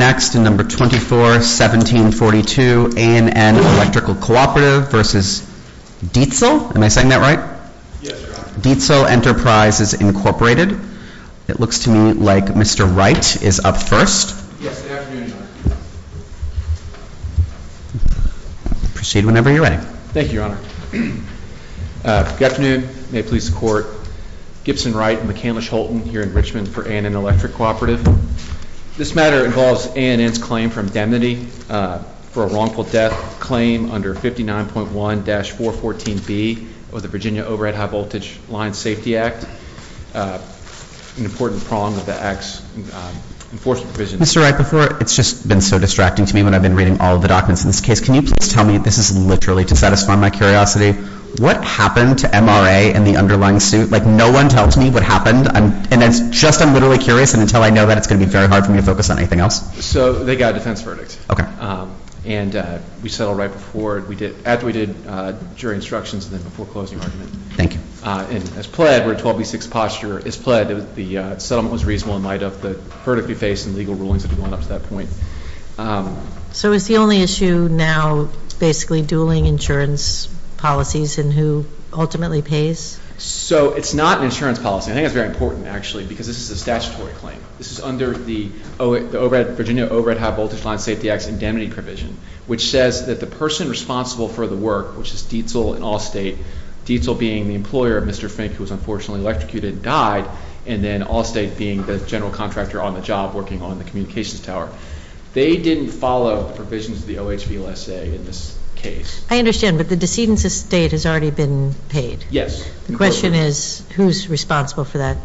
241742 A&N Electric Cooperative v. Dietzel Enterprises, Inc. It looks to me like Mr. Wright is up first. Yes, good afternoon, Your Honor. Proceed whenever you're ready. Thank you, Your Honor. Good afternoon. May it please the Court. Gibson Wright and McCandless Holton here in Richmond for A&N Electric Cooperative. This matter involves A&N's claim for indemnity for a wrongful death claim under 59.1-414B of the Virginia Overhead High Voltage Line Safety Act, an important prong of the Act's enforcement provision. Mr. Wright, before – it's just been so distracting to me when I've been reading all of the documents in this case. Can you please tell me – this is literally to satisfy my curiosity – what happened to MRA and the underlying suit? Like, no one tells me what happened, and it's just – I'm literally curious, and until I know that, it's going to be very hard for me to focus on anything else. So they got a defense verdict. Okay. And we settled right before – after we did jury instructions and then before closing argument. Thank you. And as pled, we're a 12B6 posture. As pled, the settlement was reasonable in light of the verdict we face and legal rulings that have gone up to that point. So is the only issue now basically dueling insurance policies and who ultimately pays? So it's not an insurance policy. I think it's very important, actually, because this is a statutory claim. This is under the Virginia Overhead High Voltage Line Safety Act's indemnity provision, which says that the person responsible for the work, which is Dietzel and Allstate – Dietzel being the employer of Mr. Fink, who was unfortunately electrocuted and died, and then Allstate being the general contractor on the job working on the communications tower – they didn't follow the provisions of the OHVLSA in this case. I understand, but the decedent's estate has already been paid. Yes. The question is who's responsible for that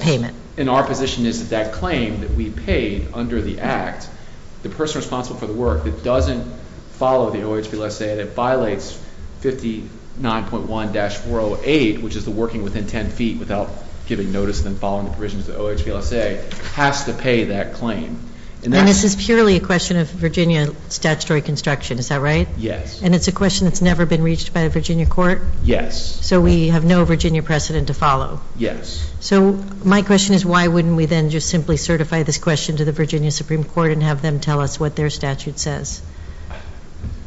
payment? And our position is that that claim that we paid under the Act, the person responsible for the work that doesn't follow the OHVLSA and it violates 59.1-408, which is the working within 10 feet without giving notice and then following the provisions of the OHVLSA, has to pay that claim. And this is purely a question of Virginia statutory construction, is that right? Yes. And it's a question that's never been reached by a Virginia court? Yes. So we have no Virginia precedent to follow? So my question is why wouldn't we then just simply certify this question to the Virginia Supreme Court and have them tell us what their statute says?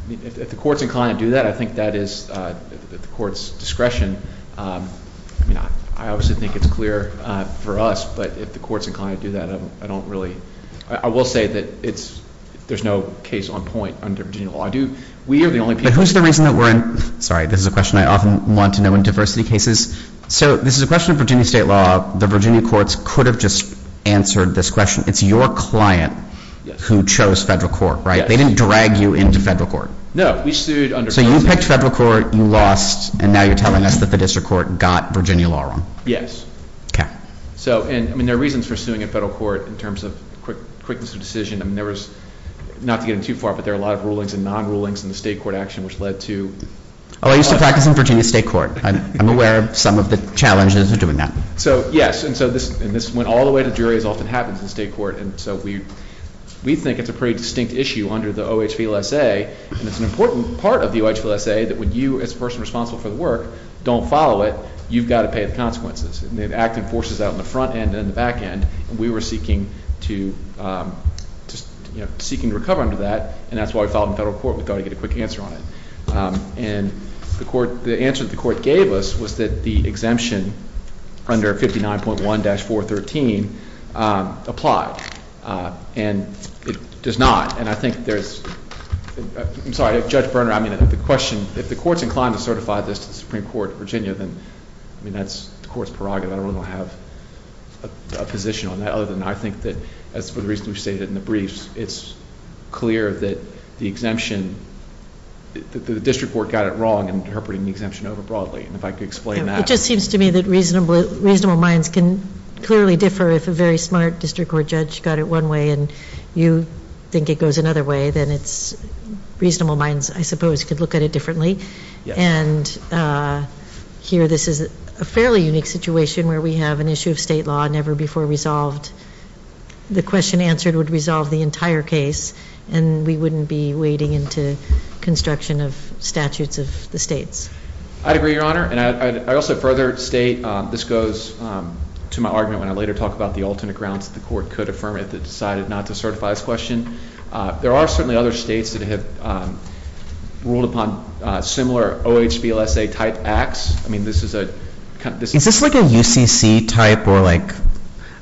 If the court's inclined to do that, I think that is at the court's discretion. I mean, I obviously think it's clear for us, but if the court's inclined to do that, I don't really – I will say that it's – there's no case on point under Virginia law. I do – we are the only people – But who's the reason that we're in – sorry, this is a question I often want to know in diversity cases. So this is a question of Virginia state law. The Virginia courts could have just answered this question. It's your client who chose federal court, right? Yes. They didn't drag you into federal court? No. We sued under – So you picked federal court, you lost, and now you're telling us that the district court got Virginia law wrong? Yes. Okay. So, I mean, there are reasons for suing a federal court in terms of quickness of decision. I mean, there was – not to get in too far, but there are a lot of rulings and non-rulings in the state court action which led to – Oh, I used to practice in Virginia state court. I'm aware of some of the challenges of doing that. So, yes, and so this – and this went all the way to juries, often happens in state court, and so we think it's a pretty distinct issue under the OHVLSA, and it's an important part of the OHVLSA that when you, as a person responsible for the work, don't follow it, you've got to pay the consequences. And they have acting forces out in the front end and the back end, and we were seeking to – you know, seeking to recover under that, and that's why we filed in federal court. We thought we'd get a quick answer on it. And the court – the answer that the court gave us was that the exemption under 59.1-413 applied, and it does not. And I think there's – I'm sorry, Judge Berner, I mean, the question – if the court's inclined to certify this to the Supreme Court of Virginia, then, I mean, that's the court's prerogative. I don't really have a position on that other than I think that, as for the reason we stated in the briefs, it's clear that the exemption – that the district court got it wrong in interpreting the exemption over broadly. And if I could explain that. It just seems to me that reasonable minds can clearly differ if a very smart district court judge got it one way and you think it goes another way, then it's reasonable minds, I suppose, could look at it differently. And here this is a fairly unique situation where we have an issue of state law never before resolved. The question answered would resolve the entire case, and we wouldn't be wading into construction of statutes of the states. I'd agree, Your Honor. And I'd also further state this goes to my argument when I later talk about the alternate grounds that the court could affirm if it decided not to certify this question. There are certainly other states that have ruled upon similar OHVLSA-type acts. I mean, this is a – Is this like a UCC type or like –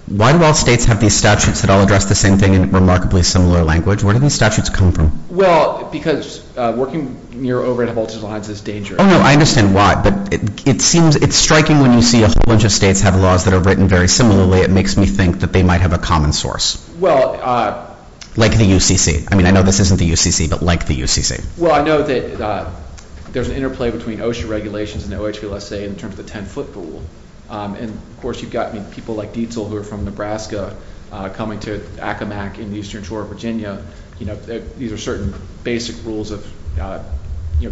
why do all states have these statutes that all address the same thing in remarkably similar language? Where do these statutes come from? Well, because working over at Holtz's Alliance is dangerous. Oh, no, I understand why. But it seems – it's striking when you see a whole bunch of states have laws that are written very similarly. It makes me think that they might have a common source. Well – Like the UCC. I mean, I know this isn't the UCC, but like the UCC. Well, I know that there's an interplay between OSHA regulations and OHVLSA in terms of the 10-foot rule. And, of course, you've got people like Dietzel who are from Nebraska coming to Acomac in the eastern shore of Virginia. These are certain basic rules of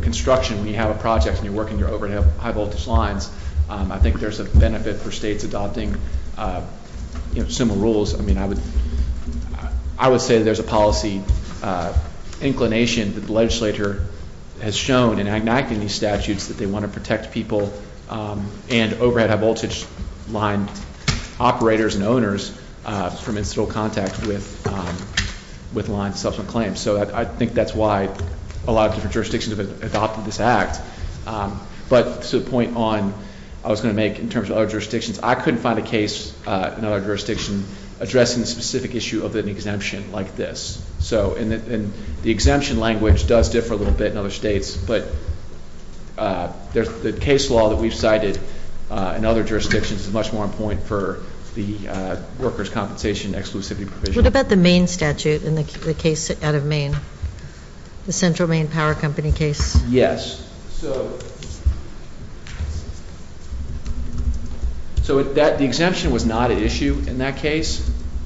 construction. When you have a project and you're working your overhead high-voltage lines, I think there's a benefit for states adopting similar rules. I mean, I would say that there's a policy inclination that the legislature has shown in enacting these statutes that they want to protect people and overhead high-voltage line operators and owners from incidental contact with lines of subsequent claims. So I think that's why a lot of different jurisdictions have adopted this act. But to the point on – I was going to make in terms of other jurisdictions, I couldn't find a case in other jurisdictions addressing the specific issue of an exemption like this. And the exemption language does differ a little bit in other states, but the case law that we've cited in other jurisdictions is much more on point for the workers' compensation exclusivity provision. What about the Maine statute in the case out of Maine, the Central Maine Power Company case? Yes. So the exemption was not an issue in that case,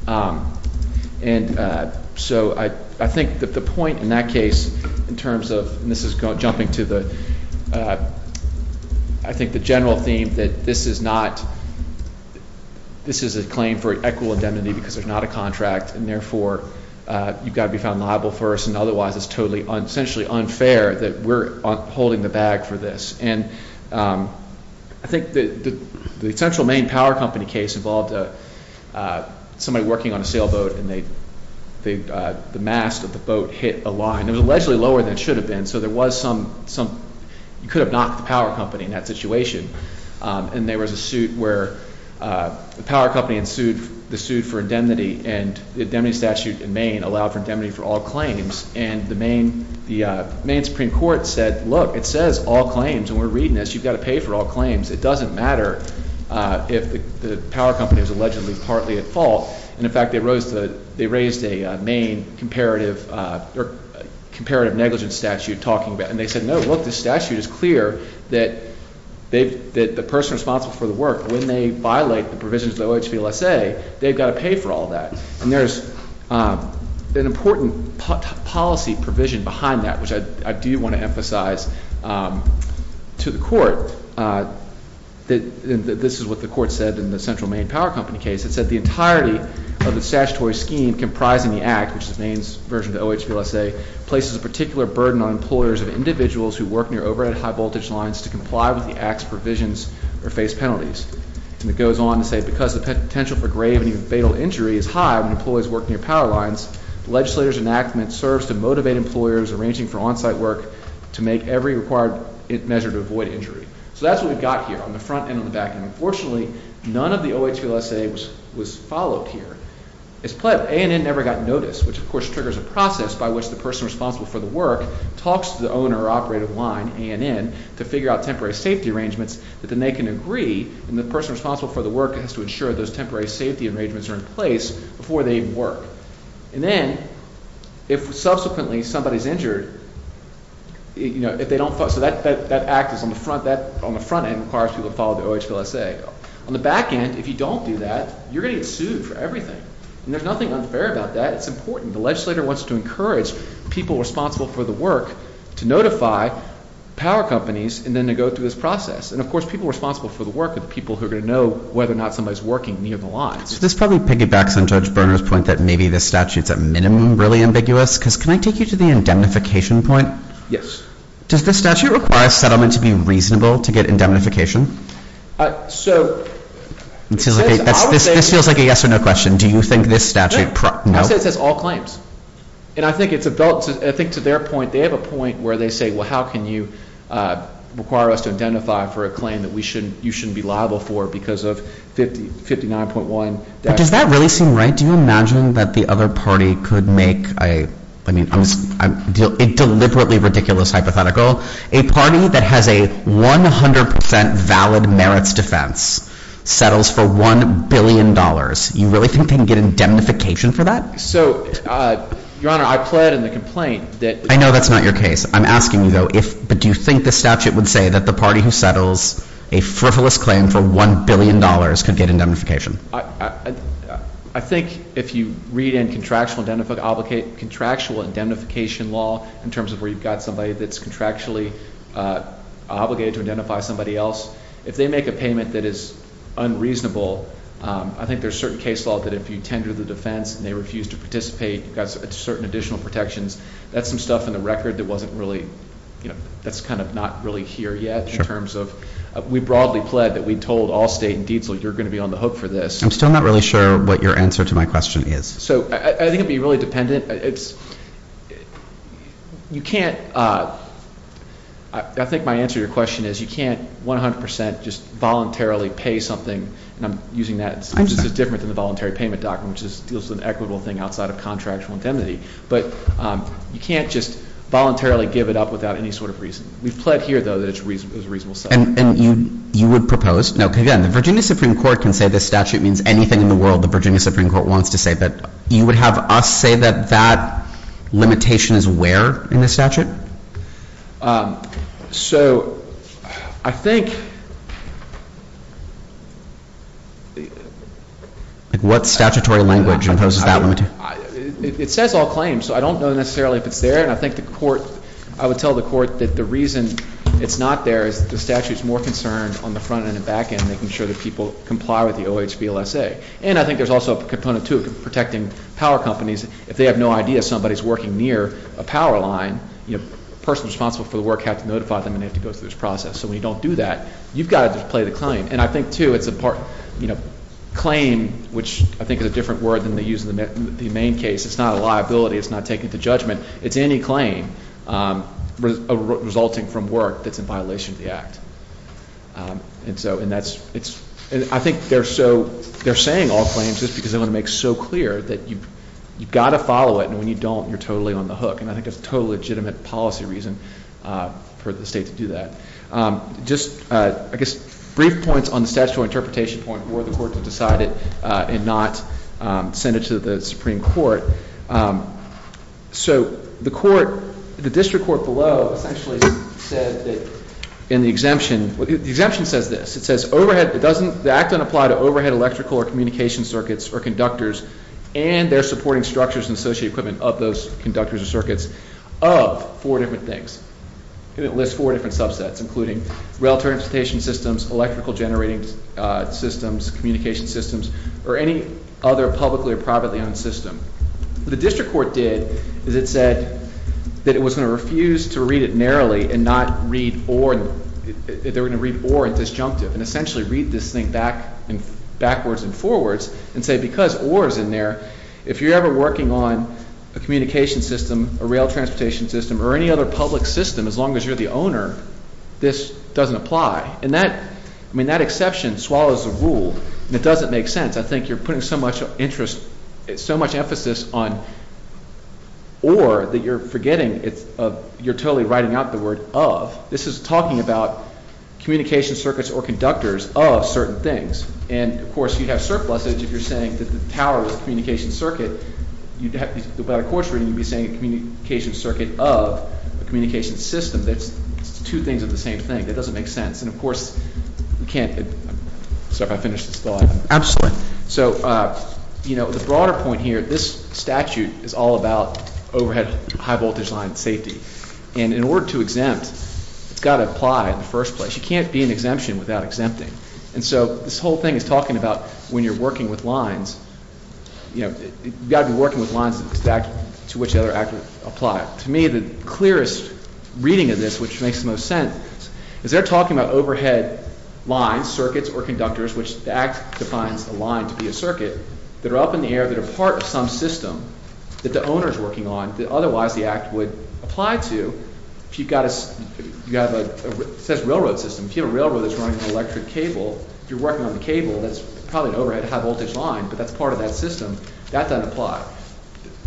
and so I think that the point in that case in terms of – and this is jumping to the – I think the general theme that this is not – this is a claim for equitable indemnity because there's not a contract, and therefore you've got to be found liable first, and otherwise it's totally essentially unfair that we're holding the bag for this. And I think the Central Maine Power Company case involved somebody working on a sailboat, and the mast of the boat hit a line. It was allegedly lower than it should have been, so there was some – you could have knocked the power company in that situation. And there was a suit where the power company ensued the suit for indemnity, and the indemnity statute in Maine allowed for indemnity for all claims. And the Maine Supreme Court said, look, it says all claims, and we're reading this. You've got to pay for all claims. It doesn't matter if the power company was allegedly partly at fault. And, in fact, they raised a Maine comparative – or comparative negligence statute talking about it. And they said, no, look, the statute is clear that the person responsible for the work, when they violate the provisions of the OHVLSA, they've got to pay for all that. And there's an important policy provision behind that, which I do want to emphasize to the court. This is what the court said in the Central Maine Power Company case. It said the entirety of the statutory scheme comprising the act, which is Maine's version of the OHVLSA, places a particular burden on employers of individuals who work near overhead high-voltage lines to comply with the act's provisions or face penalties. And it goes on to say, because the potential for grave and even fatal injury is high when employees work near power lines, the legislator's enactment serves to motivate employers arranging for on-site work to make every required measure to avoid injury. So that's what we've got here on the front and on the back. And, unfortunately, none of the OHVLSA was followed here. As a play-up, ANN never got notice, which, of course, triggers a process by which the person responsible for the work talks to the owner or operator of the line, ANN, to figure out temporary safety arrangements that then they can agree, and the person responsible for the work has to ensure those temporary safety arrangements are in place before they work. And then, if subsequently somebody's injured, if they don't follow, so that act is on the front end, requires people to follow the OHVLSA. On the back end, if you don't do that, you're going to get sued for everything. And there's nothing unfair about that. It's important. The legislator wants to encourage people responsible for the work to notify power companies and then to go through this process. And, of course, people responsible for the work are the people who are going to know whether or not somebody's working near the lines. So this probably piggybacks on Judge Berner's point that maybe this statute's, at minimum, really ambiguous, because can I take you to the indemnification point? Yes. Does this statute require a settlement to be reasonable to get indemnification? So, I would say… This feels like a yes or no question. Do you think this statute… No. I say it says all claims. And I think to their point, they have a point where they say, well, how can you require us to identify for a claim that you shouldn't be liable for because of 59.1… But does that really seem right? Do you imagine that the other party could make a deliberately ridiculous hypothetical? A party that has a 100% valid merits defense settles for $1 billion. You really think they can get indemnification for that? So, Your Honor, I pled in the complaint that… I know that's not your case. I'm asking you, though, but do you think the statute would say that the party who settles a frivolous claim for $1 billion could get indemnification? I think if you read in contractual indemnification law in terms of where you've got somebody that's contractually obligated to identify somebody else, if they make a payment that is unreasonable, I think there's certain case law that if you tender the defense and they refuse to participate, you've got certain additional protections. That's some stuff in the record that wasn't really, you know, that's kind of not really here yet in terms of… We broadly pled that we told Allstate and Dietzel you're going to be on the hook for this. I'm still not really sure what your answer to my question is. So, I think it would be really dependent. You can't… I think my answer to your question is you can't 100 percent just voluntarily pay something, and I'm using that. It's different than the voluntary payment document, which deals with an equitable thing outside of contractual indemnity. But you can't just voluntarily give it up without any sort of reason. We've pled here, though, that it's a reasonable settlement. And you would propose… No, again, the Virginia Supreme Court can say this statute means anything in the world. The Virginia Supreme Court wants to say that. You would have us say that that limitation is where in the statute? So, I think… What statutory language imposes that limitation? It says all claims, so I don't know necessarily if it's there. And I think the court… I would tell the court that the reason it's not there is the statute is more concerned on the front and the back end, making sure that people comply with the OHVLSA. And I think there's also a component, too, of protecting power companies. If they have no idea somebody's working near a power line, the person responsible for the work has to notify them, and they have to go through this process. So when you don't do that, you've got to just play the claim. And I think, too, it's a part… Claim, which I think is a different word than they use in the main case, it's not a liability. It's not taken to judgment. It's any claim resulting from work that's in violation of the Act. And so, and that's… I think they're saying all claims just because they want to make it so clear that you've got to follow it, and when you don't, you're totally on the hook. And I think that's a totally legitimate policy reason for the state to do that. Just, I guess, brief points on the statutory interpretation point for the court to decide it and not send it to the Supreme Court. So the court, the district court below, essentially said that in the exemption… The exemption says this. It says overhead, it doesn't… The Act doesn't apply to overhead electrical or communication circuits or conductors and their supporting structures and associated equipment of those conductors or circuits of four different things. And it lists four different subsets, including rail transportation systems, electrical generating systems, systems, communication systems, or any other publicly or privately owned system. What the district court did is it said that it was going to refuse to read it narrowly and not read or… They were going to read or in disjunctive and essentially read this thing backwards and forwards and say because or is in there, if you're ever working on a communication system, a rail transportation system, or any other public system, as long as you're the owner, this doesn't apply. And that, I mean, that exception swallows the rule and it doesn't make sense. I think you're putting so much interest, so much emphasis on or that you're forgetting. You're totally writing out the word of. This is talking about communication circuits or conductors of certain things. And, of course, you'd have surplusage if you're saying that the tower is a communication circuit. By the court's reading, you'd be saying a communication circuit of a communication system. That's two things of the same thing. It doesn't make sense. And, of course, we can't – I'm sorry if I finished this thought. Absolutely. So, you know, the broader point here, this statute is all about overhead high-voltage line safety. And in order to exempt, it's got to apply in the first place. You can't be an exemption without exempting. And so this whole thing is talking about when you're working with lines, you know, you've got to be working with lines to which the other actors apply. To me, the clearest reading of this, which makes the most sense, is they're talking about overhead lines, circuits, or conductors, which the Act defines a line to be a circuit, that are up in the air, that are part of some system that the owner is working on that otherwise the Act would apply to. If you've got a – it says railroad system. If you have a railroad that's running an electric cable, if you're working on the cable, that's probably an overhead high-voltage line, but that's part of that system. That doesn't apply.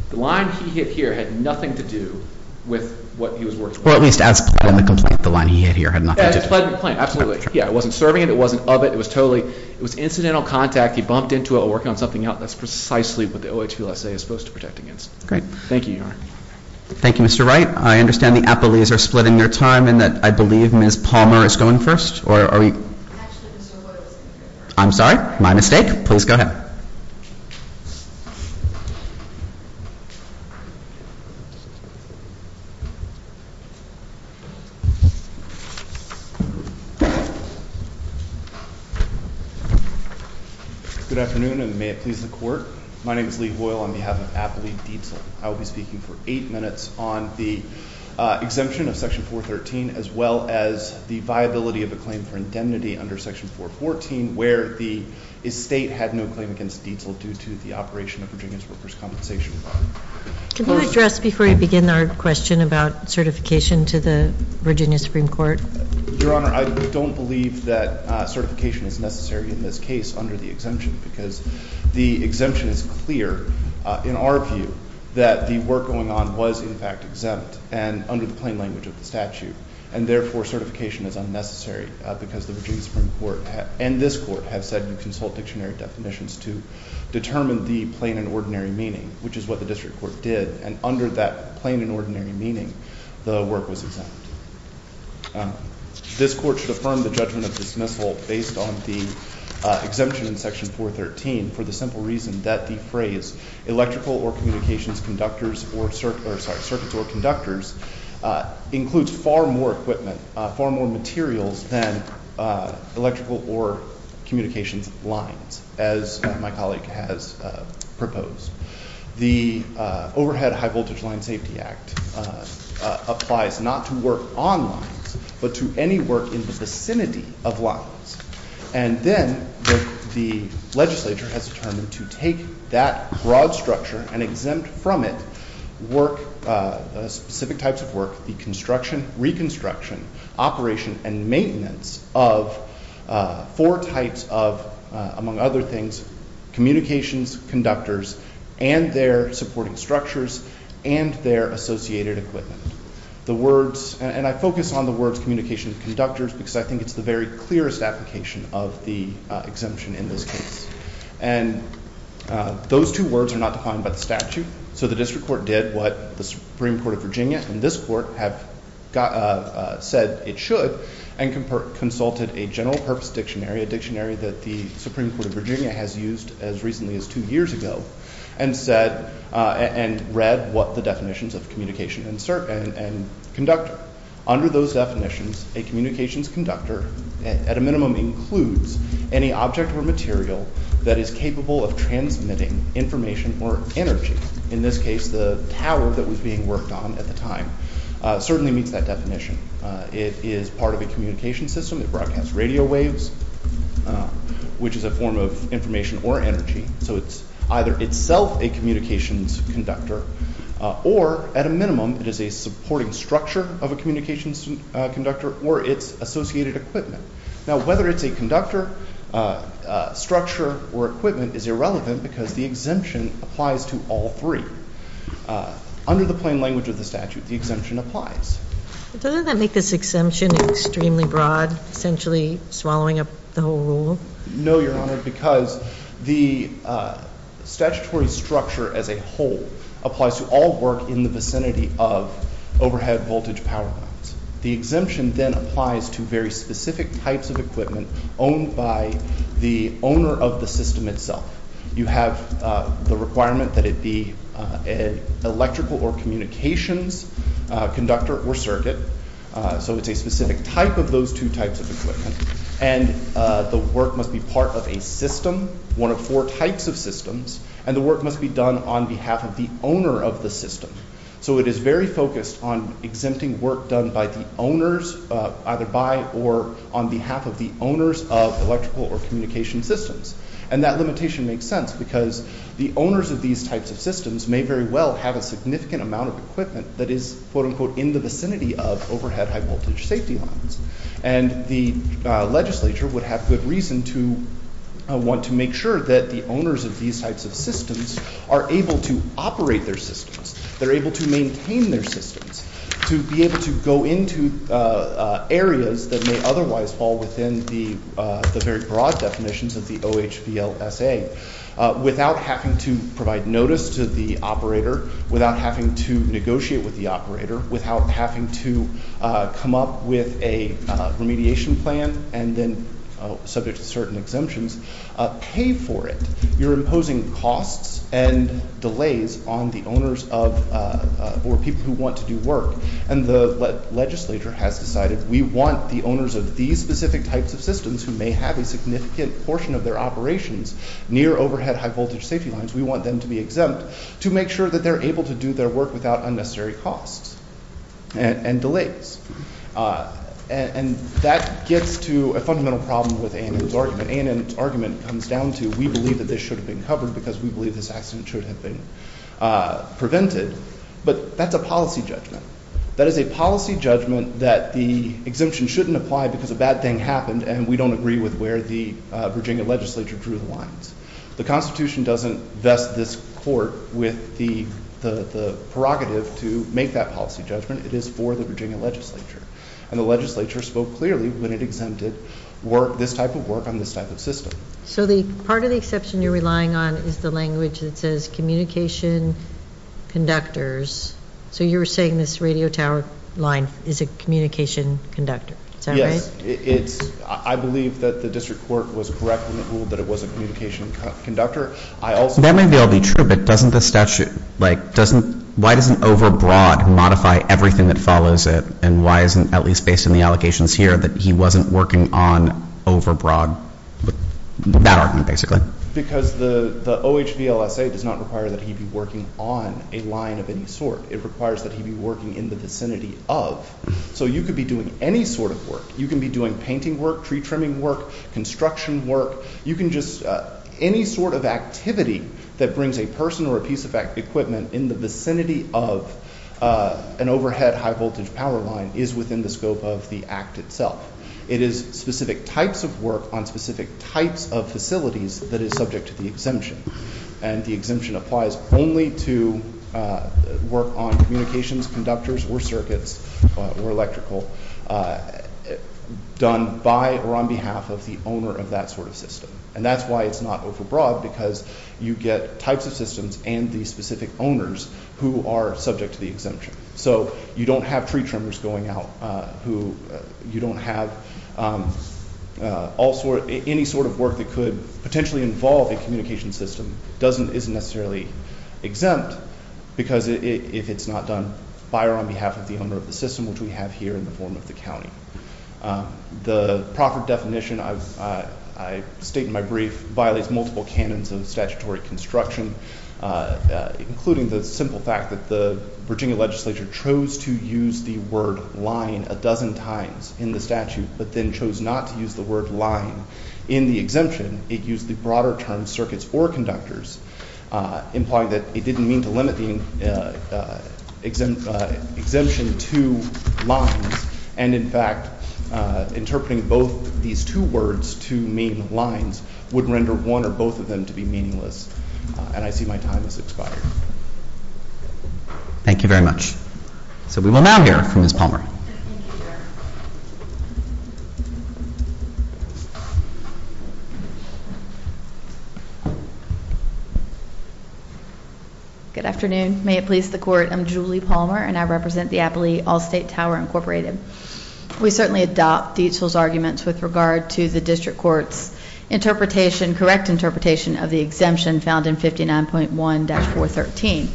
The line he hit here had nothing to do with what he was working on. Or at least as pled in the complaint, the line he hit here had nothing to do with it. As pled in the complaint, absolutely. Yeah, it wasn't serving it. It wasn't of it. It was totally – it was incidental contact. He bumped into it while working on something else. That's precisely what the OHVLSA is supposed to protect against. Great. Thank you, Your Honor. Thank you, Mr. Wright. I understand the appellees are splitting their time and that I believe Ms. Palmer is going first, or are we – Actually, Mr. Wood is going first. I'm sorry, my mistake. Please go ahead. Good afternoon, and may it please the Court. My name is Lee Hoyle on behalf of Appellee Dietzel. I will be speaking for eight minutes on the exemption of Section 413 as well as the viability of a claim for indemnity under Section 414 where the estate had no claim against Dietzel due to the operation of Virginia's workers' compensation law. Could you address before you begin our question about certification to the Virginia Supreme Court? Your Honor, I don't believe that certification is necessary in this case under the exemption because the exemption is clear in our view that the work going on was, in fact, exempt and under the plain language of the statute, and therefore certification is unnecessary because the Virginia Supreme Court and this Court have said that they're going to consult dictionary definitions to determine the plain and ordinary meaning, which is what the district court did, and under that plain and ordinary meaning, the work was exempt. This Court should affirm the judgment of dismissal based on the exemption in Section 413 for the simple reason that the phrase electrical or communications conductors or – sorry, circuits or conductors includes far more equipment, far more materials than electrical or communications lines as my colleague has proposed. The Overhead High-Voltage Line Safety Act applies not to work on lines but to any work in the vicinity of lines, and then the legislature has determined to take that broad structure and exempt from it work, specific types of work, the construction, reconstruction, operation, and maintenance of four types of, among other things, communications conductors and their supporting structures and their associated equipment. The words – and I focus on the words communication conductors because I think it's the very clearest application of the exemption in this case. And those two words are not defined by the statute, so the district court did what the Supreme Court of Virginia and this court have said it should and consulted a general purpose dictionary, a dictionary that the Supreme Court of Virginia has used as recently as two years ago, and read what the definitions of communication and conductor. Under those definitions, a communications conductor at a minimum includes any object or material that is capable of transmitting information or energy, in this case the tower that was being worked on at the time, certainly meets that definition. It is part of a communications system. It broadcasts radio waves, which is a form of information or energy. So it's either itself a communications conductor or at a minimum it is a supporting structure of a communications conductor or its associated equipment. Now whether it's a conductor, structure, or equipment is irrelevant because the exemption applies to all three. Under the plain language of the statute, the exemption applies. Doesn't that make this exemption extremely broad, essentially swallowing up the whole rule? No, Your Honor, because the statutory structure as a whole applies to all work in the vicinity of overhead voltage power lines. The exemption then applies to very specific types of equipment owned by the owner of the system itself. You have the requirement that it be an electrical or communications conductor or circuit. So it's a specific type of those two types of equipment. And the work must be part of a system, one of four types of systems, and the work must be done on behalf of the owner of the system. So it is very focused on exempting work done by the owners, either by or on behalf of the owners of electrical or communication systems. And that limitation makes sense because the owners of these types of systems may very well have a significant amount of equipment that is in the vicinity of overhead high voltage safety lines. And the legislature would have good reason to want to make sure that the owners of these types of systems are able to operate their systems, they're able to maintain their systems, to be able to go into areas that may otherwise fall within the very broad definitions of the OHVLSA without having to provide notice to the operator, without having to negotiate with the operator, without having to come up with a remediation plan and then, subject to certain exemptions, pay for it. You're imposing costs and delays on the owners or people who want to do work. And the legislature has decided we want the owners of these specific types of systems who may have a significant portion of their operations near overhead high voltage safety lines, we want them to be exempt to make sure that they're able to do their work without unnecessary costs and delays. And that gets to a fundamental problem with ANN's argument. ANN's argument comes down to we believe that this should have been covered because we believe this accident should have been prevented. But that's a policy judgment. That is a policy judgment that the exemption shouldn't apply because a bad thing happened and we don't agree with where the Virginia legislature drew the lines. The Constitution doesn't vest this court with the prerogative to make that policy judgment. It is for the Virginia legislature. And the legislature spoke clearly when it exempted this type of work on this type of system. So part of the exception you're relying on is the language that says communication conductors. So you're saying this radio tower line is a communication conductor. Is that right? I believe that the district court was correct when it ruled that it was a communication conductor. That may well be true, but doesn't the statute, like, doesn't, why doesn't overbroad modify everything that follows it and why isn't, at least based on the allegations here, that he wasn't working on overbroad? That argument, basically. Because the OHVLSA does not require that he be working on a line of any sort. It requires that he be working in the vicinity of. So you could be doing any sort of work. You can be doing painting work, pre-trimming work, construction work. You can just, any sort of activity that brings a person or a piece of equipment in the vicinity of an overhead high-voltage power line is within the scope of the act itself. It is specific types of work on specific types of facilities that is subject to the exemption. And the exemption applies only to work on communications, conductors, or circuits, or electrical, done by or on behalf of the owner of that sort of system. And that's why it's not overbroad, because you get types of systems and the specific owners who are subject to the exemption. So you don't have pre-trimmers going out who, you don't have all sort, any sort of work that could potentially involve a communication system isn't necessarily exempt because if it's not done by or on behalf of the owner of the system, which we have here in the form of the county. The profit definition, I state in my brief, violates multiple canons of statutory construction, including the simple fact that the Virginia legislature chose to use the word line a dozen times in the statute, but then chose not to use the word line in the exemption. It used the broader term circuits or conductors, implying that it didn't mean to limit the exemption to lines, and in fact interpreting both these two words to mean lines would render one or both of them to be meaningless. And I see my time has expired. Thank you very much. So we will now hear from Ms. Palmer. Good afternoon. May it please the Court. I'm Julie Palmer, and I represent the Appley Allstate Tower Incorporated. We certainly adopt Dietzel's arguments with regard to the district court's interpretation, correct interpretation of the exemption found in 59.1-413.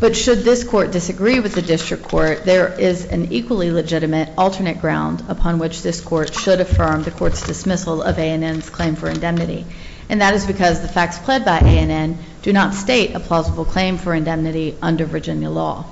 But should this court disagree with the district court, there is an equally legitimate alternate ground upon which this court should affirm the court's dismissal of ANN's claim for indemnity, and that is because the facts pled by ANN do not state a plausible claim for indemnity under Virginia law.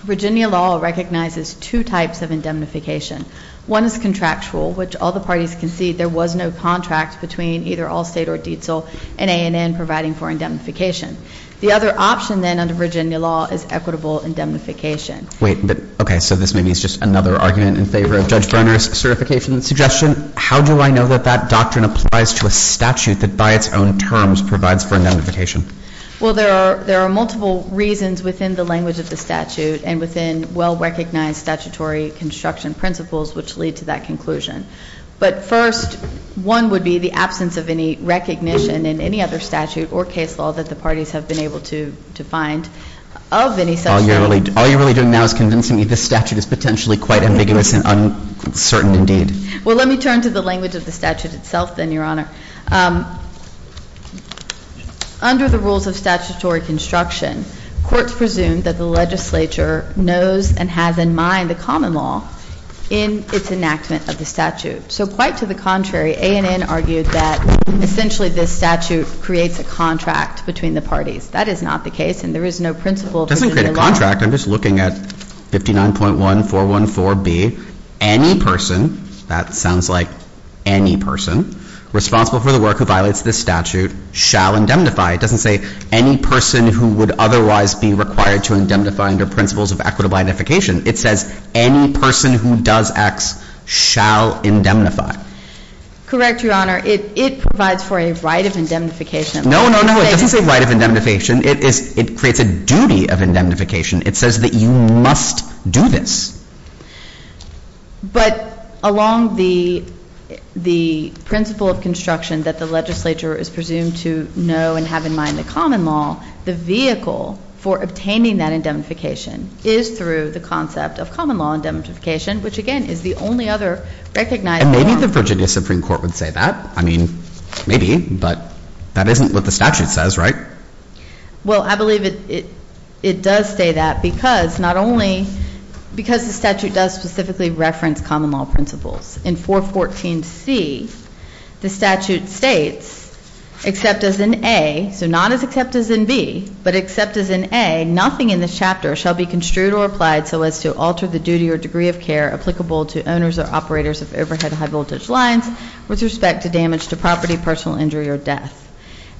Virginia law recognizes two types of indemnification. One is contractual, which all the parties concede there was no contract between either Allstate or Dietzel and ANN providing for indemnification. The other option, then, under Virginia law is equitable indemnification. Wait, but, okay, so this maybe is just another argument in favor of Judge Berner's certification suggestion. How do I know that that doctrine applies to a statute that by its own terms provides for indemnification? Well, there are multiple reasons within the language of the statute and within well-recognized statutory construction principles which lead to that conclusion. But first, one would be the absence of any recognition in any other statute or case law that the parties have been able to find of any such claim. All you're really doing now is convincing me this statute is potentially quite ambiguous and uncertain indeed. Well, let me turn to the language of the statute itself then, Your Honor. Under the rules of statutory construction, courts presume that the legislature knows and has in mind the common law in its enactment of the statute. So quite to the contrary, ANN argued that essentially this statute creates a contract between the parties. That is not the case and there is no principle of Virginia law. In the contract, I'm just looking at 59.1414B, any person, that sounds like any person, responsible for the work who violates this statute shall indemnify. It doesn't say any person who would otherwise be required to indemnify under principles of equitable indemnification. It says any person who does X shall indemnify. Correct, Your Honor. It provides for a right of indemnification. No, no, no. It doesn't say right of indemnification. It creates a duty of indemnification. It says that you must do this. But along the principle of construction that the legislature is presumed to know and have in mind the common law, the vehicle for obtaining that indemnification is through the concept of common law indemnification, which again is the only other recognized law. And maybe the Virginia Supreme Court would say that. I mean, maybe, but that isn't what the statute says, right? Well, I believe it does say that because not only, because the statute does specifically reference common law principles. In 414C, the statute states, except as in A, so not as except as in B, but except as in A, nothing in this chapter shall be construed or applied so as to alter the duty or degree of care applicable to owners or operators of overhead high voltage lines with respect to damage to property, personal injury, or death.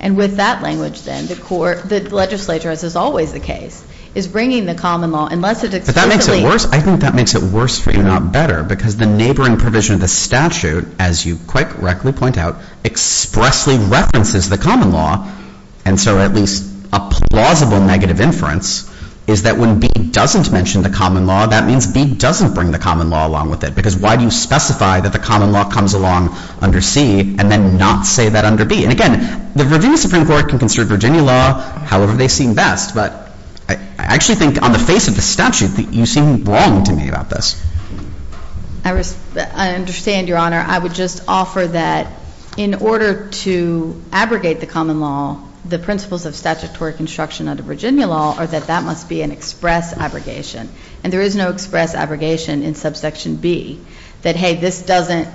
And with that language, then, the court, the legislature, as is always the case, is bringing the common law unless it explicitly— But that makes it worse. I think that makes it worse, if not better, because the neighboring provision of the statute, as you quite correctly point out, expressly references the common law. And so at least a plausible negative inference is that when B doesn't mention the common law, that means B doesn't bring the common law along with it. Because why do you specify that the common law comes along under C and then not say that under B? And again, the Virginia Supreme Court can consider Virginia law however they see best, but I actually think on the face of the statute that you seem wrong to me about this. I understand, Your Honor. I would just offer that in order to abrogate the common law, the principles of statutory construction under Virginia law are that that must be an express abrogation. And there is no express abrogation in subsection B that, hey, this doesn't—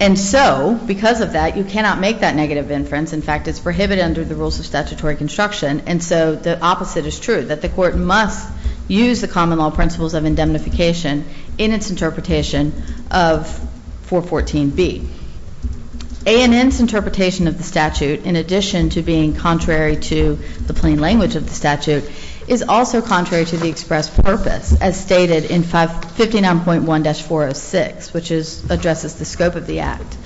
And so because of that, you cannot make that negative inference. In fact, it's prohibited under the rules of statutory construction. And so the opposite is true, that the Court must use the common law principles of indemnification in its interpretation of 414B. A and N's interpretation of the statute, in addition to being contrary to the plain language of the statute, is also contrary to the express purpose as stated in 59.1-406, which addresses the scope of the Act.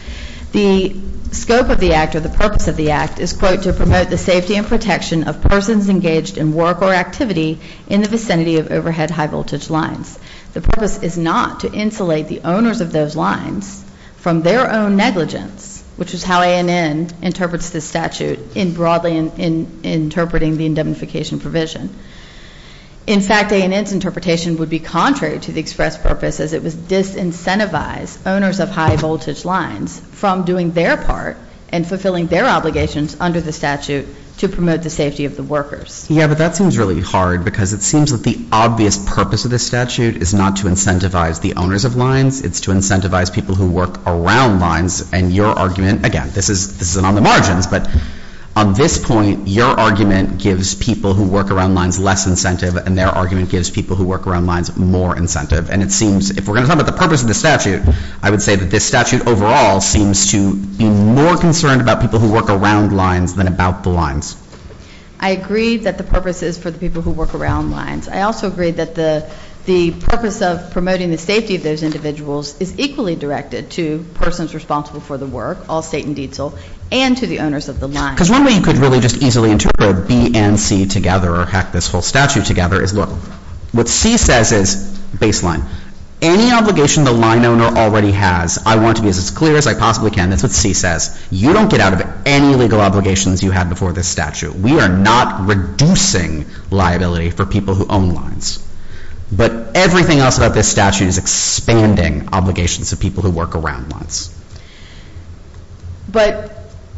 The scope of the Act or the purpose of the Act is, quote, to promote the safety and protection of persons engaged in work or activity in the vicinity of overhead high-voltage lines. The purpose is not to insulate the owners of those lines from their own negligence, which is how A and N interprets this statute in broadly interpreting the indemnification provision. In fact, A and N's interpretation would be contrary to the express purpose as it would disincentivize owners of high-voltage lines from doing their part and fulfilling their obligations under the statute to promote the safety of the workers. Yeah, but that seems really hard because it seems that the obvious purpose of this statute is not to incentivize the owners of lines. It's to incentivize people who work around lines. And your argument, again, this is on the margins, but on this point, your argument gives people who work around lines less incentive and their argument gives people who work around lines more incentive. And it seems, if we're going to talk about the purpose of the statute, I would say that this statute overall seems to be more concerned about people who work around lines than about the lines. I agree that the purpose is for the people who work around lines. I also agree that the purpose of promoting the safety of those individuals is equally directed to persons responsible for the work, all state and diesel, and to the owners of the lines. Because one way you could really just easily interpret B and C together or hack this whole statute together is, look, what C says is, baseline, any obligation the line owner already has, I want to be as clear as I possibly can, that's what C says, you don't get out of any legal obligations you had before this statute. We are not reducing liability for people who own lines. But everything else about this statute is expanding obligations to people who work around lines. But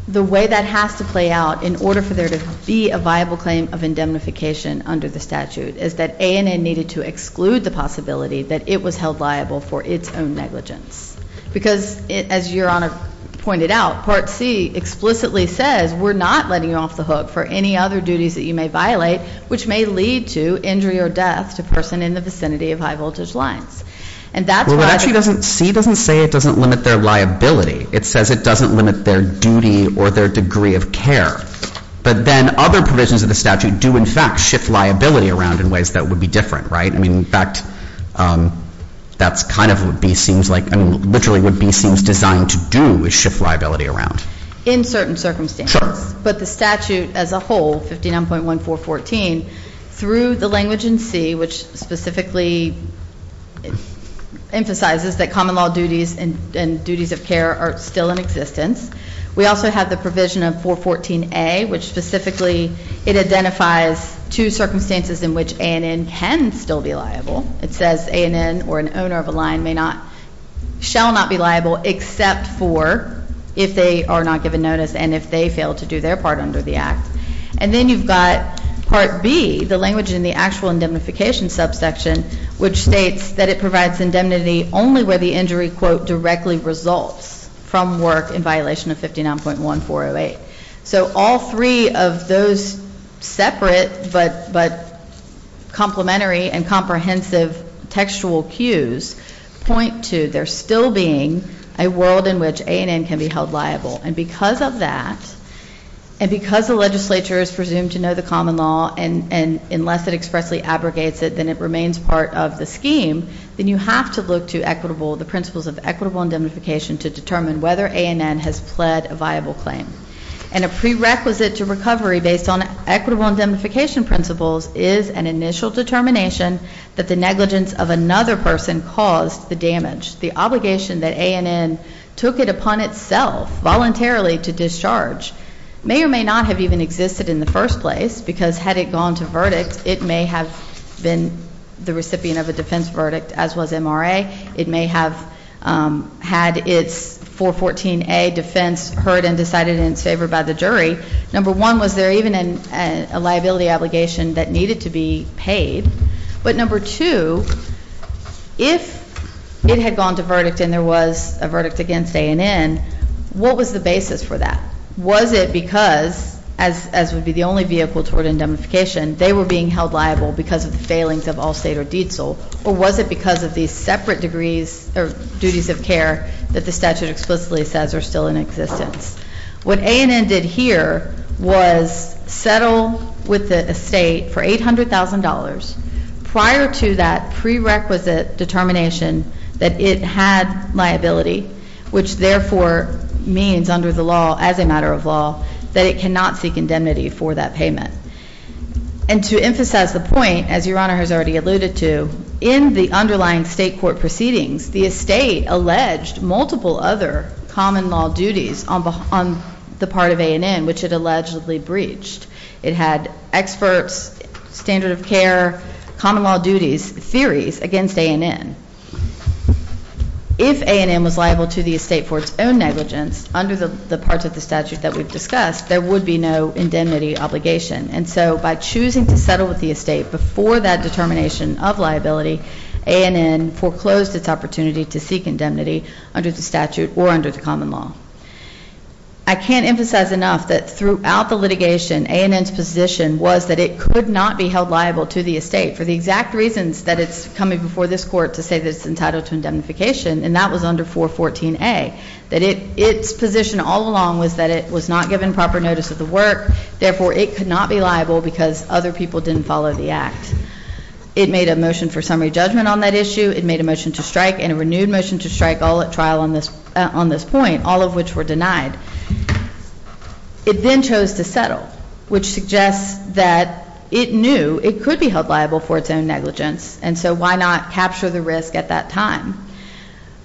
the way that has to play out in order for there to be a viable claim of indemnification under the statute is that ANN needed to exclude the possibility that it was held liable for its own negligence. Because, as Your Honor pointed out, Part C explicitly says, we're not letting you off the hook for any other duties that you may violate, which may lead to injury or death to a person in the vicinity of high-voltage lines. And that's why— Well, but actually C doesn't say it doesn't limit their liability. It says it doesn't limit their duty or their degree of care. But then other provisions of the statute do in fact shift liability around in ways that would be different, right? I mean, in fact, that's kind of what B seems like— I mean, literally what B seems designed to do is shift liability around. In certain circumstances. Sure. But the statute as a whole, 59.1.414, through the language in C, which specifically emphasizes that common law duties and duties of care are still in existence, we also have the provision of 414A, which specifically it identifies two circumstances in which ANN can still be liable. It says ANN or an owner of a line may not—shall not be liable except for if they are not given notice and if they fail to do their part under the Act. And then you've got Part B, the language in the actual indemnification subsection, which states that it provides indemnity only where the injury, quote, So all three of those separate but complementary and comprehensive textual cues point to there still being a world in which ANN can be held liable. And because of that, and because the legislature is presumed to know the common law and unless it expressly abrogates it, then it remains part of the scheme, then you have to look to equitable—the principles of equitable indemnification to determine whether ANN has pled a viable claim. And a prerequisite to recovery based on equitable indemnification principles is an initial determination that the negligence of another person caused the damage. The obligation that ANN took it upon itself voluntarily to discharge may or may not have even existed in the first place because had it gone to verdict, it may have been the recipient of a defense verdict, as was MRA. It may have had its 414A defense heard and decided in its favor by the jury. Number one, was there even a liability obligation that needed to be paid? But number two, if it had gone to verdict and there was a verdict against ANN, what was the basis for that? Was it because, as would be the only vehicle toward indemnification, they were being held liable because of the failings of Allstate or Dietzel, or was it because of these separate degrees or duties of care that the statute explicitly says are still in existence? What ANN did here was settle with the estate for $800,000 prior to that prerequisite determination that it had liability, which therefore means under the law, as a matter of law, that it cannot seek indemnity for that payment. And to emphasize the point, as Your Honor has already alluded to, in the underlying state court proceedings, the estate alleged multiple other common law duties on the part of ANN, which it allegedly breached. It had experts, standard of care, common law duties, theories against ANN. If ANN was liable to the estate for its own negligence, under the parts of the statute that we've discussed, there would be no indemnity obligation. And so by choosing to settle with the estate before that determination of liability, ANN foreclosed its opportunity to seek indemnity under the statute or under the common law. I can't emphasize enough that throughout the litigation, ANN's position was that it could not be held liable to the estate for the exact reasons that it's coming before this Court to say that it's entitled to indemnification, and that was under 414A, that its position all along was that it was not given proper notice of the work, therefore it could not be liable because other people didn't follow the act. It made a motion for summary judgment on that issue. It made a motion to strike and a renewed motion to strike all at trial on this point, all of which were denied. It then chose to settle, which suggests that it knew it could be held liable for its own negligence, and so why not capture the risk at that time?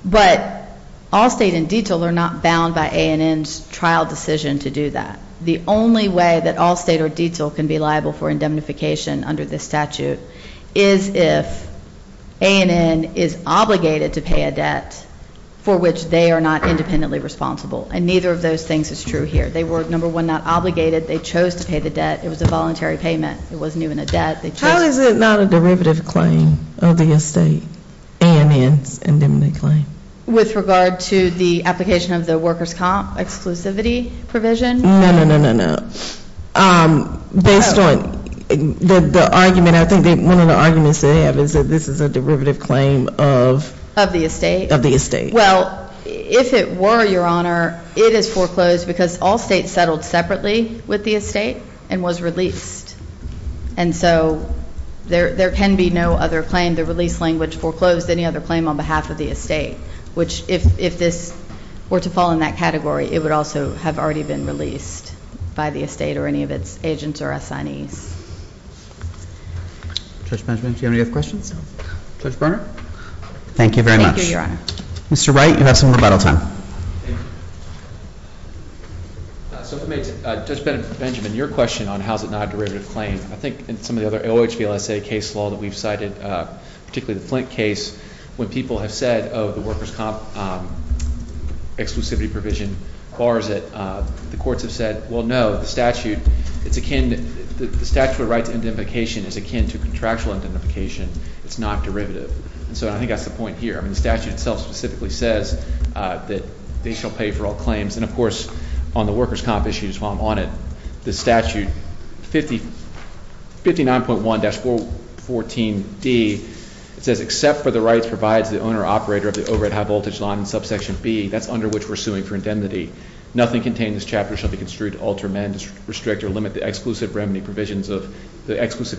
But Allstate and Detail are not bound by ANN's trial decision to do that. The only way that Allstate or Detail can be liable for indemnification under this statute is if ANN is obligated to pay a debt for which they are not independently responsible, and neither of those things is true here. They were, number one, not obligated. They chose to pay the debt. It was a voluntary payment. It wasn't even a debt. How is it not a derivative claim of the estate, ANN's indemnity claim? With regard to the application of the workers' comp exclusivity provision? No, no, no, no, no. Based on the argument, I think one of the arguments they have is that this is a derivative claim of? Of the estate. Of the estate. Well, if it were, Your Honor, it is foreclosed because Allstate settled separately with the estate and was released. And so there can be no other claim. The release language foreclosed any other claim on behalf of the estate, which if this were to fall in that category, it would also have already been released by the estate or any of its agents or assignees. Judge Benjamin, do you have any other questions? No. Judge Berner? Thank you very much. Thank you, Your Honor. Mr. Wright, you have some rebuttal time. Thank you. So if I may, Judge Benjamin, your question on how is it not a derivative claim, I think in some of the other OHVLSA case law that we've cited, particularly the Flint case, when people have said, oh, the workers' comp exclusivity provision bars it, the courts have said, well, no, the statute, it's akin, the statute of rights indemnification is akin to contractual indemnification. It's not derivative. And so I think that's the point here. The statute itself specifically says that they shall pay for all claims. And, of course, on the workers' comp issue, just while I'm on it, the statute 59.1-414D, it says except for the rights provided to the owner or operator of the overhead high voltage line in subsection B, that's under which we're suing for indemnity. Nothing contained in this chapter shall be construed to alter, amend, restrict, or limit the exclusivity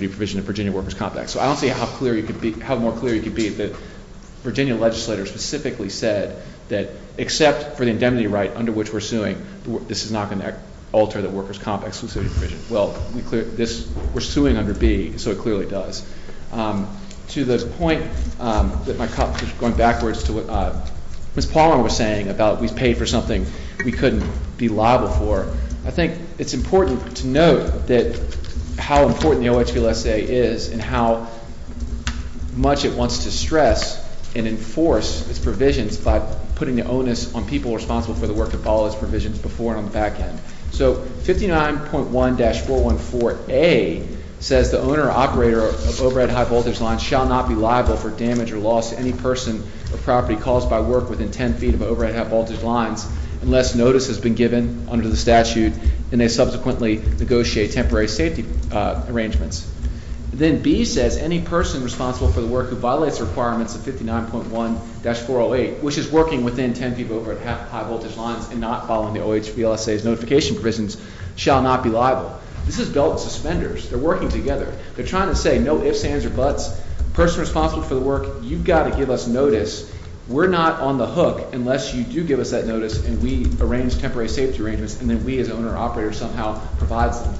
provision of Virginia workers' comp act. So I don't see how clear you could be, how more clear you could be that Virginia legislators specifically said that except for the indemnity right under which we're suing, this is not going to alter the workers' comp exclusivity provision. Well, we're suing under B, so it clearly does. To the point that my colleague was going backwards to what Ms. Palmer was saying about we paid for something we couldn't be liable for, I think it's important to note that how important the OHVLSA is and how much it wants to stress and enforce its provisions by putting the onus on people responsible for the work to follow its provisions before and on the back end. So 59.1-414A says the owner or operator of overhead high voltage lines shall not be liable for damage or loss to any person or property caused by work within 10 feet of overhead high voltage lines unless notice has been given under the statute and they subsequently negotiate temporary safety arrangements. Then B says any person responsible for the work who violates the requirements of 59.1-408, which is working within 10 feet of overhead high voltage lines and not following the OHVLSA's notification provisions, shall not be liable. This is belt and suspenders. They're working together. They're trying to say no ifs, ands, or buts. Person responsible for the work, you've got to give us notice. We're not on the hook unless you do give us that notice and we arrange temporary safety arrangements and then we as the owner or operator somehow provides them.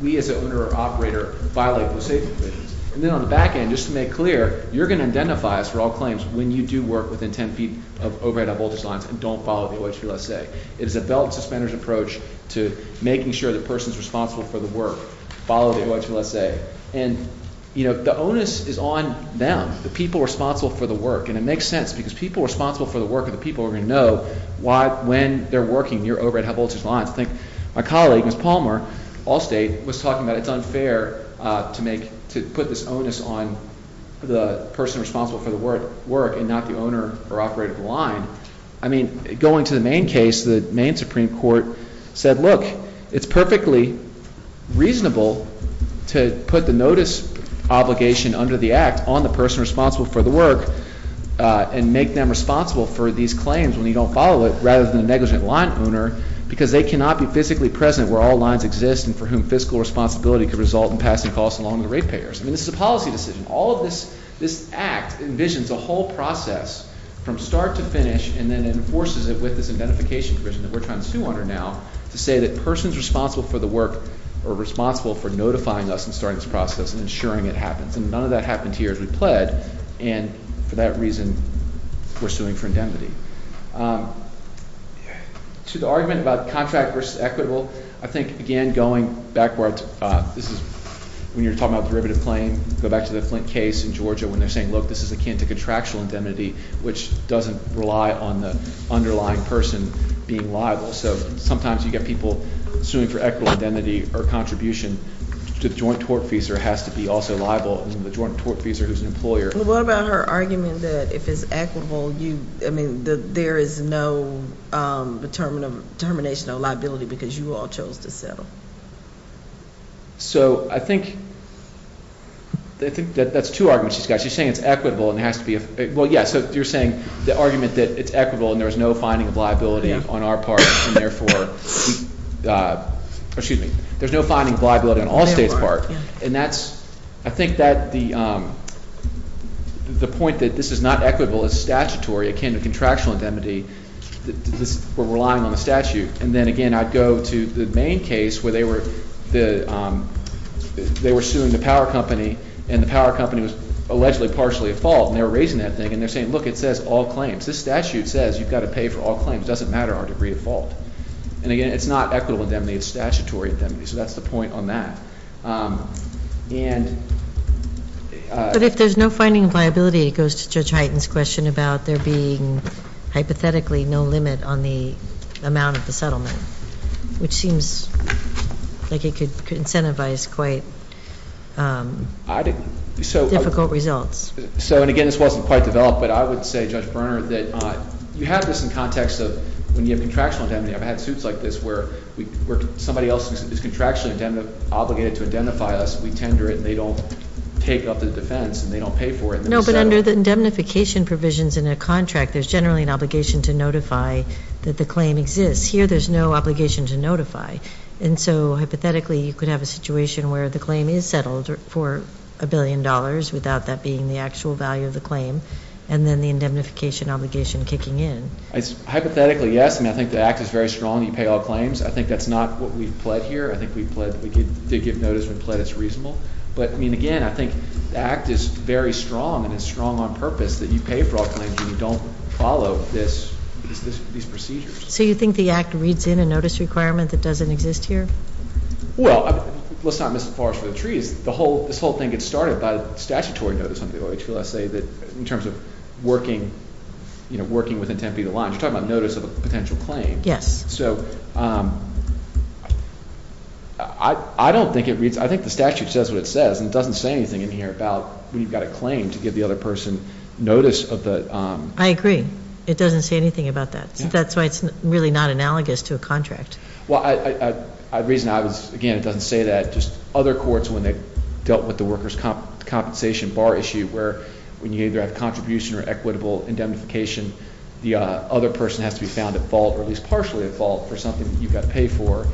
We as the owner or operator violate those safety provisions. And then on the back end, just to make clear, you're going to identify us for all claims when you do work within 10 feet of overhead high voltage lines and don't follow the OHVLSA. It is a belt and suspenders approach to making sure the person is responsible for the work. Follow the OHVLSA. And the onus is on them, the people responsible for the work, and it makes sense because people responsible for the work are the people who are going to know when they're working near overhead high voltage lines. I think my colleague, Ms. Palmer, Allstate, was talking about it's unfair to make, to put this onus on the person responsible for the work and not the owner or operator of the line. I mean, going to the Maine case, the Maine Supreme Court said, look, it's perfectly reasonable to put the notice obligation under the act on the person responsible for the work and make them responsible for these claims when you don't follow it rather than a negligent line owner because they cannot be physically present where all lines exist and for whom fiscal responsibility could result in passing costs along to the rate payers. I mean, this is a policy decision. All of this, this act envisions a whole process from start to finish and then enforces it with this identification provision that we're trying to sue under now to say that persons responsible for the work are responsible for notifying us and starting this process and ensuring it happens. And none of that happened here as we pled and for that reason we're suing for indemnity. To the argument about contract versus equitable, I think, again, going backwards, this is when you're talking about derivative claim, go back to the Flint case in Georgia when they're saying, look, this is akin to contractual indemnity, which doesn't rely on the underlying person being liable. So sometimes you get people suing for equitable indemnity or contribution to the joint tortfeasor has to be also liable to the joint tortfeasor who's an employer. What about her argument that if it's equitable, I mean, there is no determination of liability because you all chose to settle? So I think that's two arguments she's got. She's saying it's equitable and it has to be. Well, yeah, so you're saying the argument that it's equitable and there's no finding of liability on our part and, therefore, excuse me, there's no finding of liability on all states' part. And that's I think that the point that this is not equitable is statutory akin to contractual indemnity. We're relying on the statute. And then, again, I'd go to the main case where they were suing the power company and the power company was allegedly partially at fault and they were raising that thing. And they're saying, look, it says all claims. This statute says you've got to pay for all claims. It doesn't matter our degree of fault. And, again, it's not equitable indemnity. It's statutory indemnity. So that's the point on that. But if there's no finding of liability, it goes to Judge Hyten's question about there being hypothetically no limit on the amount of the settlement, which seems like it could incentivize quite difficult results. So, and, again, this wasn't quite developed, but I would say, Judge Berner, that you have this in context of when you have contractual indemnity. I've had suits like this where somebody else is contractually obligated to identify us. We tender it and they don't take up the defense and they don't pay for it. No, but under the indemnification provisions in a contract, there's generally an obligation to notify that the claim exists. Here there's no obligation to notify. And so, hypothetically, you could have a situation where the claim is settled for a billion dollars without that being the actual value of the claim and then the indemnification obligation kicking in. Hypothetically, yes. I mean, I think the Act is very strong. You pay all claims. I think that's not what we've pled here. I think we've pled. We did give notice. We've pled. It's reasonable. But, I mean, again, I think the Act is very strong and it's strong on purpose that you pay for all claims and you don't follow these procedures. So you think the Act reads in a notice requirement that doesn't exist here? Well, let's not miss the forest for the trees. This whole thing gets started by a statutory notice under the OHLSA in terms of working within 10 feet of the line. You're talking about notice of a potential claim. Yes. So I don't think it reads. I think the statute says what it says, and it doesn't say anything in here about when you've got a claim to give the other person notice of the... I agree. It doesn't say anything about that. That's why it's really not analogous to a contract. Well, the reason I was... Again, it doesn't say that. Just other courts when they've dealt with the workers' compensation bar issue where when you either have contribution or equitable indemnification, the other person has to be found at fault or at least partially at fault for something that you've got to pay for.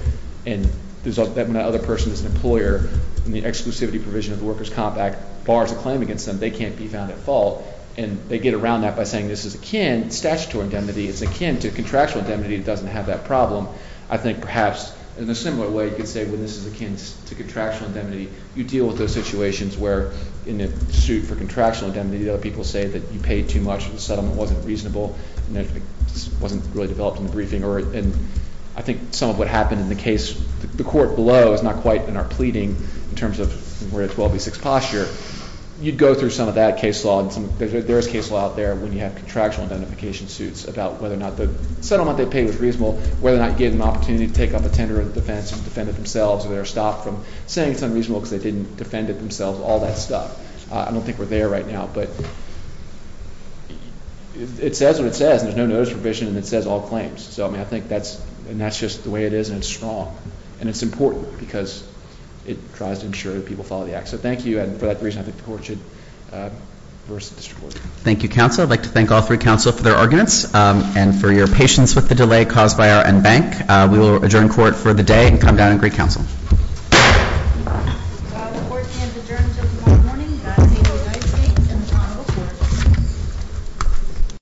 And when that other person is an employer, in the exclusivity provision of the workers' comp act, bars a claim against them, they can't be found at fault. And they get around that by saying this is akin, statutory indemnity, it's akin to contractual indemnity. It doesn't have that problem. I think perhaps in a similar way, you could say this is akin to contractual indemnity. You deal with those situations where in a suit for contractual indemnity, other people say that you paid too much, the settlement wasn't reasonable, and it wasn't really developed in the briefing. And I think some of what happened in the case, the court below is not quite in our pleading in terms of where it's 12B6 posture. You'd go through some of that case law. There is case law out there when you have contractual identification suits about whether or not the settlement they paid was reasonable, whether or not you gave them an opportunity to take off a tender of the defense and defend it themselves, or they were stopped from saying it's unreasonable because they didn't defend it themselves, all that stuff. I don't think we're there right now, but it says what it says. There's no notice provision, and it says all claims. So, I mean, I think that's just the way it is, and it's strong. And it's important because it tries to ensure that people follow the act. So, thank you. And for that reason, I think the court should reverse the district court. Thank you, counsel. I'd like to thank all three counsel for their arguments and for your patience with the delay caused by our en banc. We will adjourn court for the day and come down and greet counsel. The court is adjourned until tomorrow morning. God save the United States and the Commonwealth.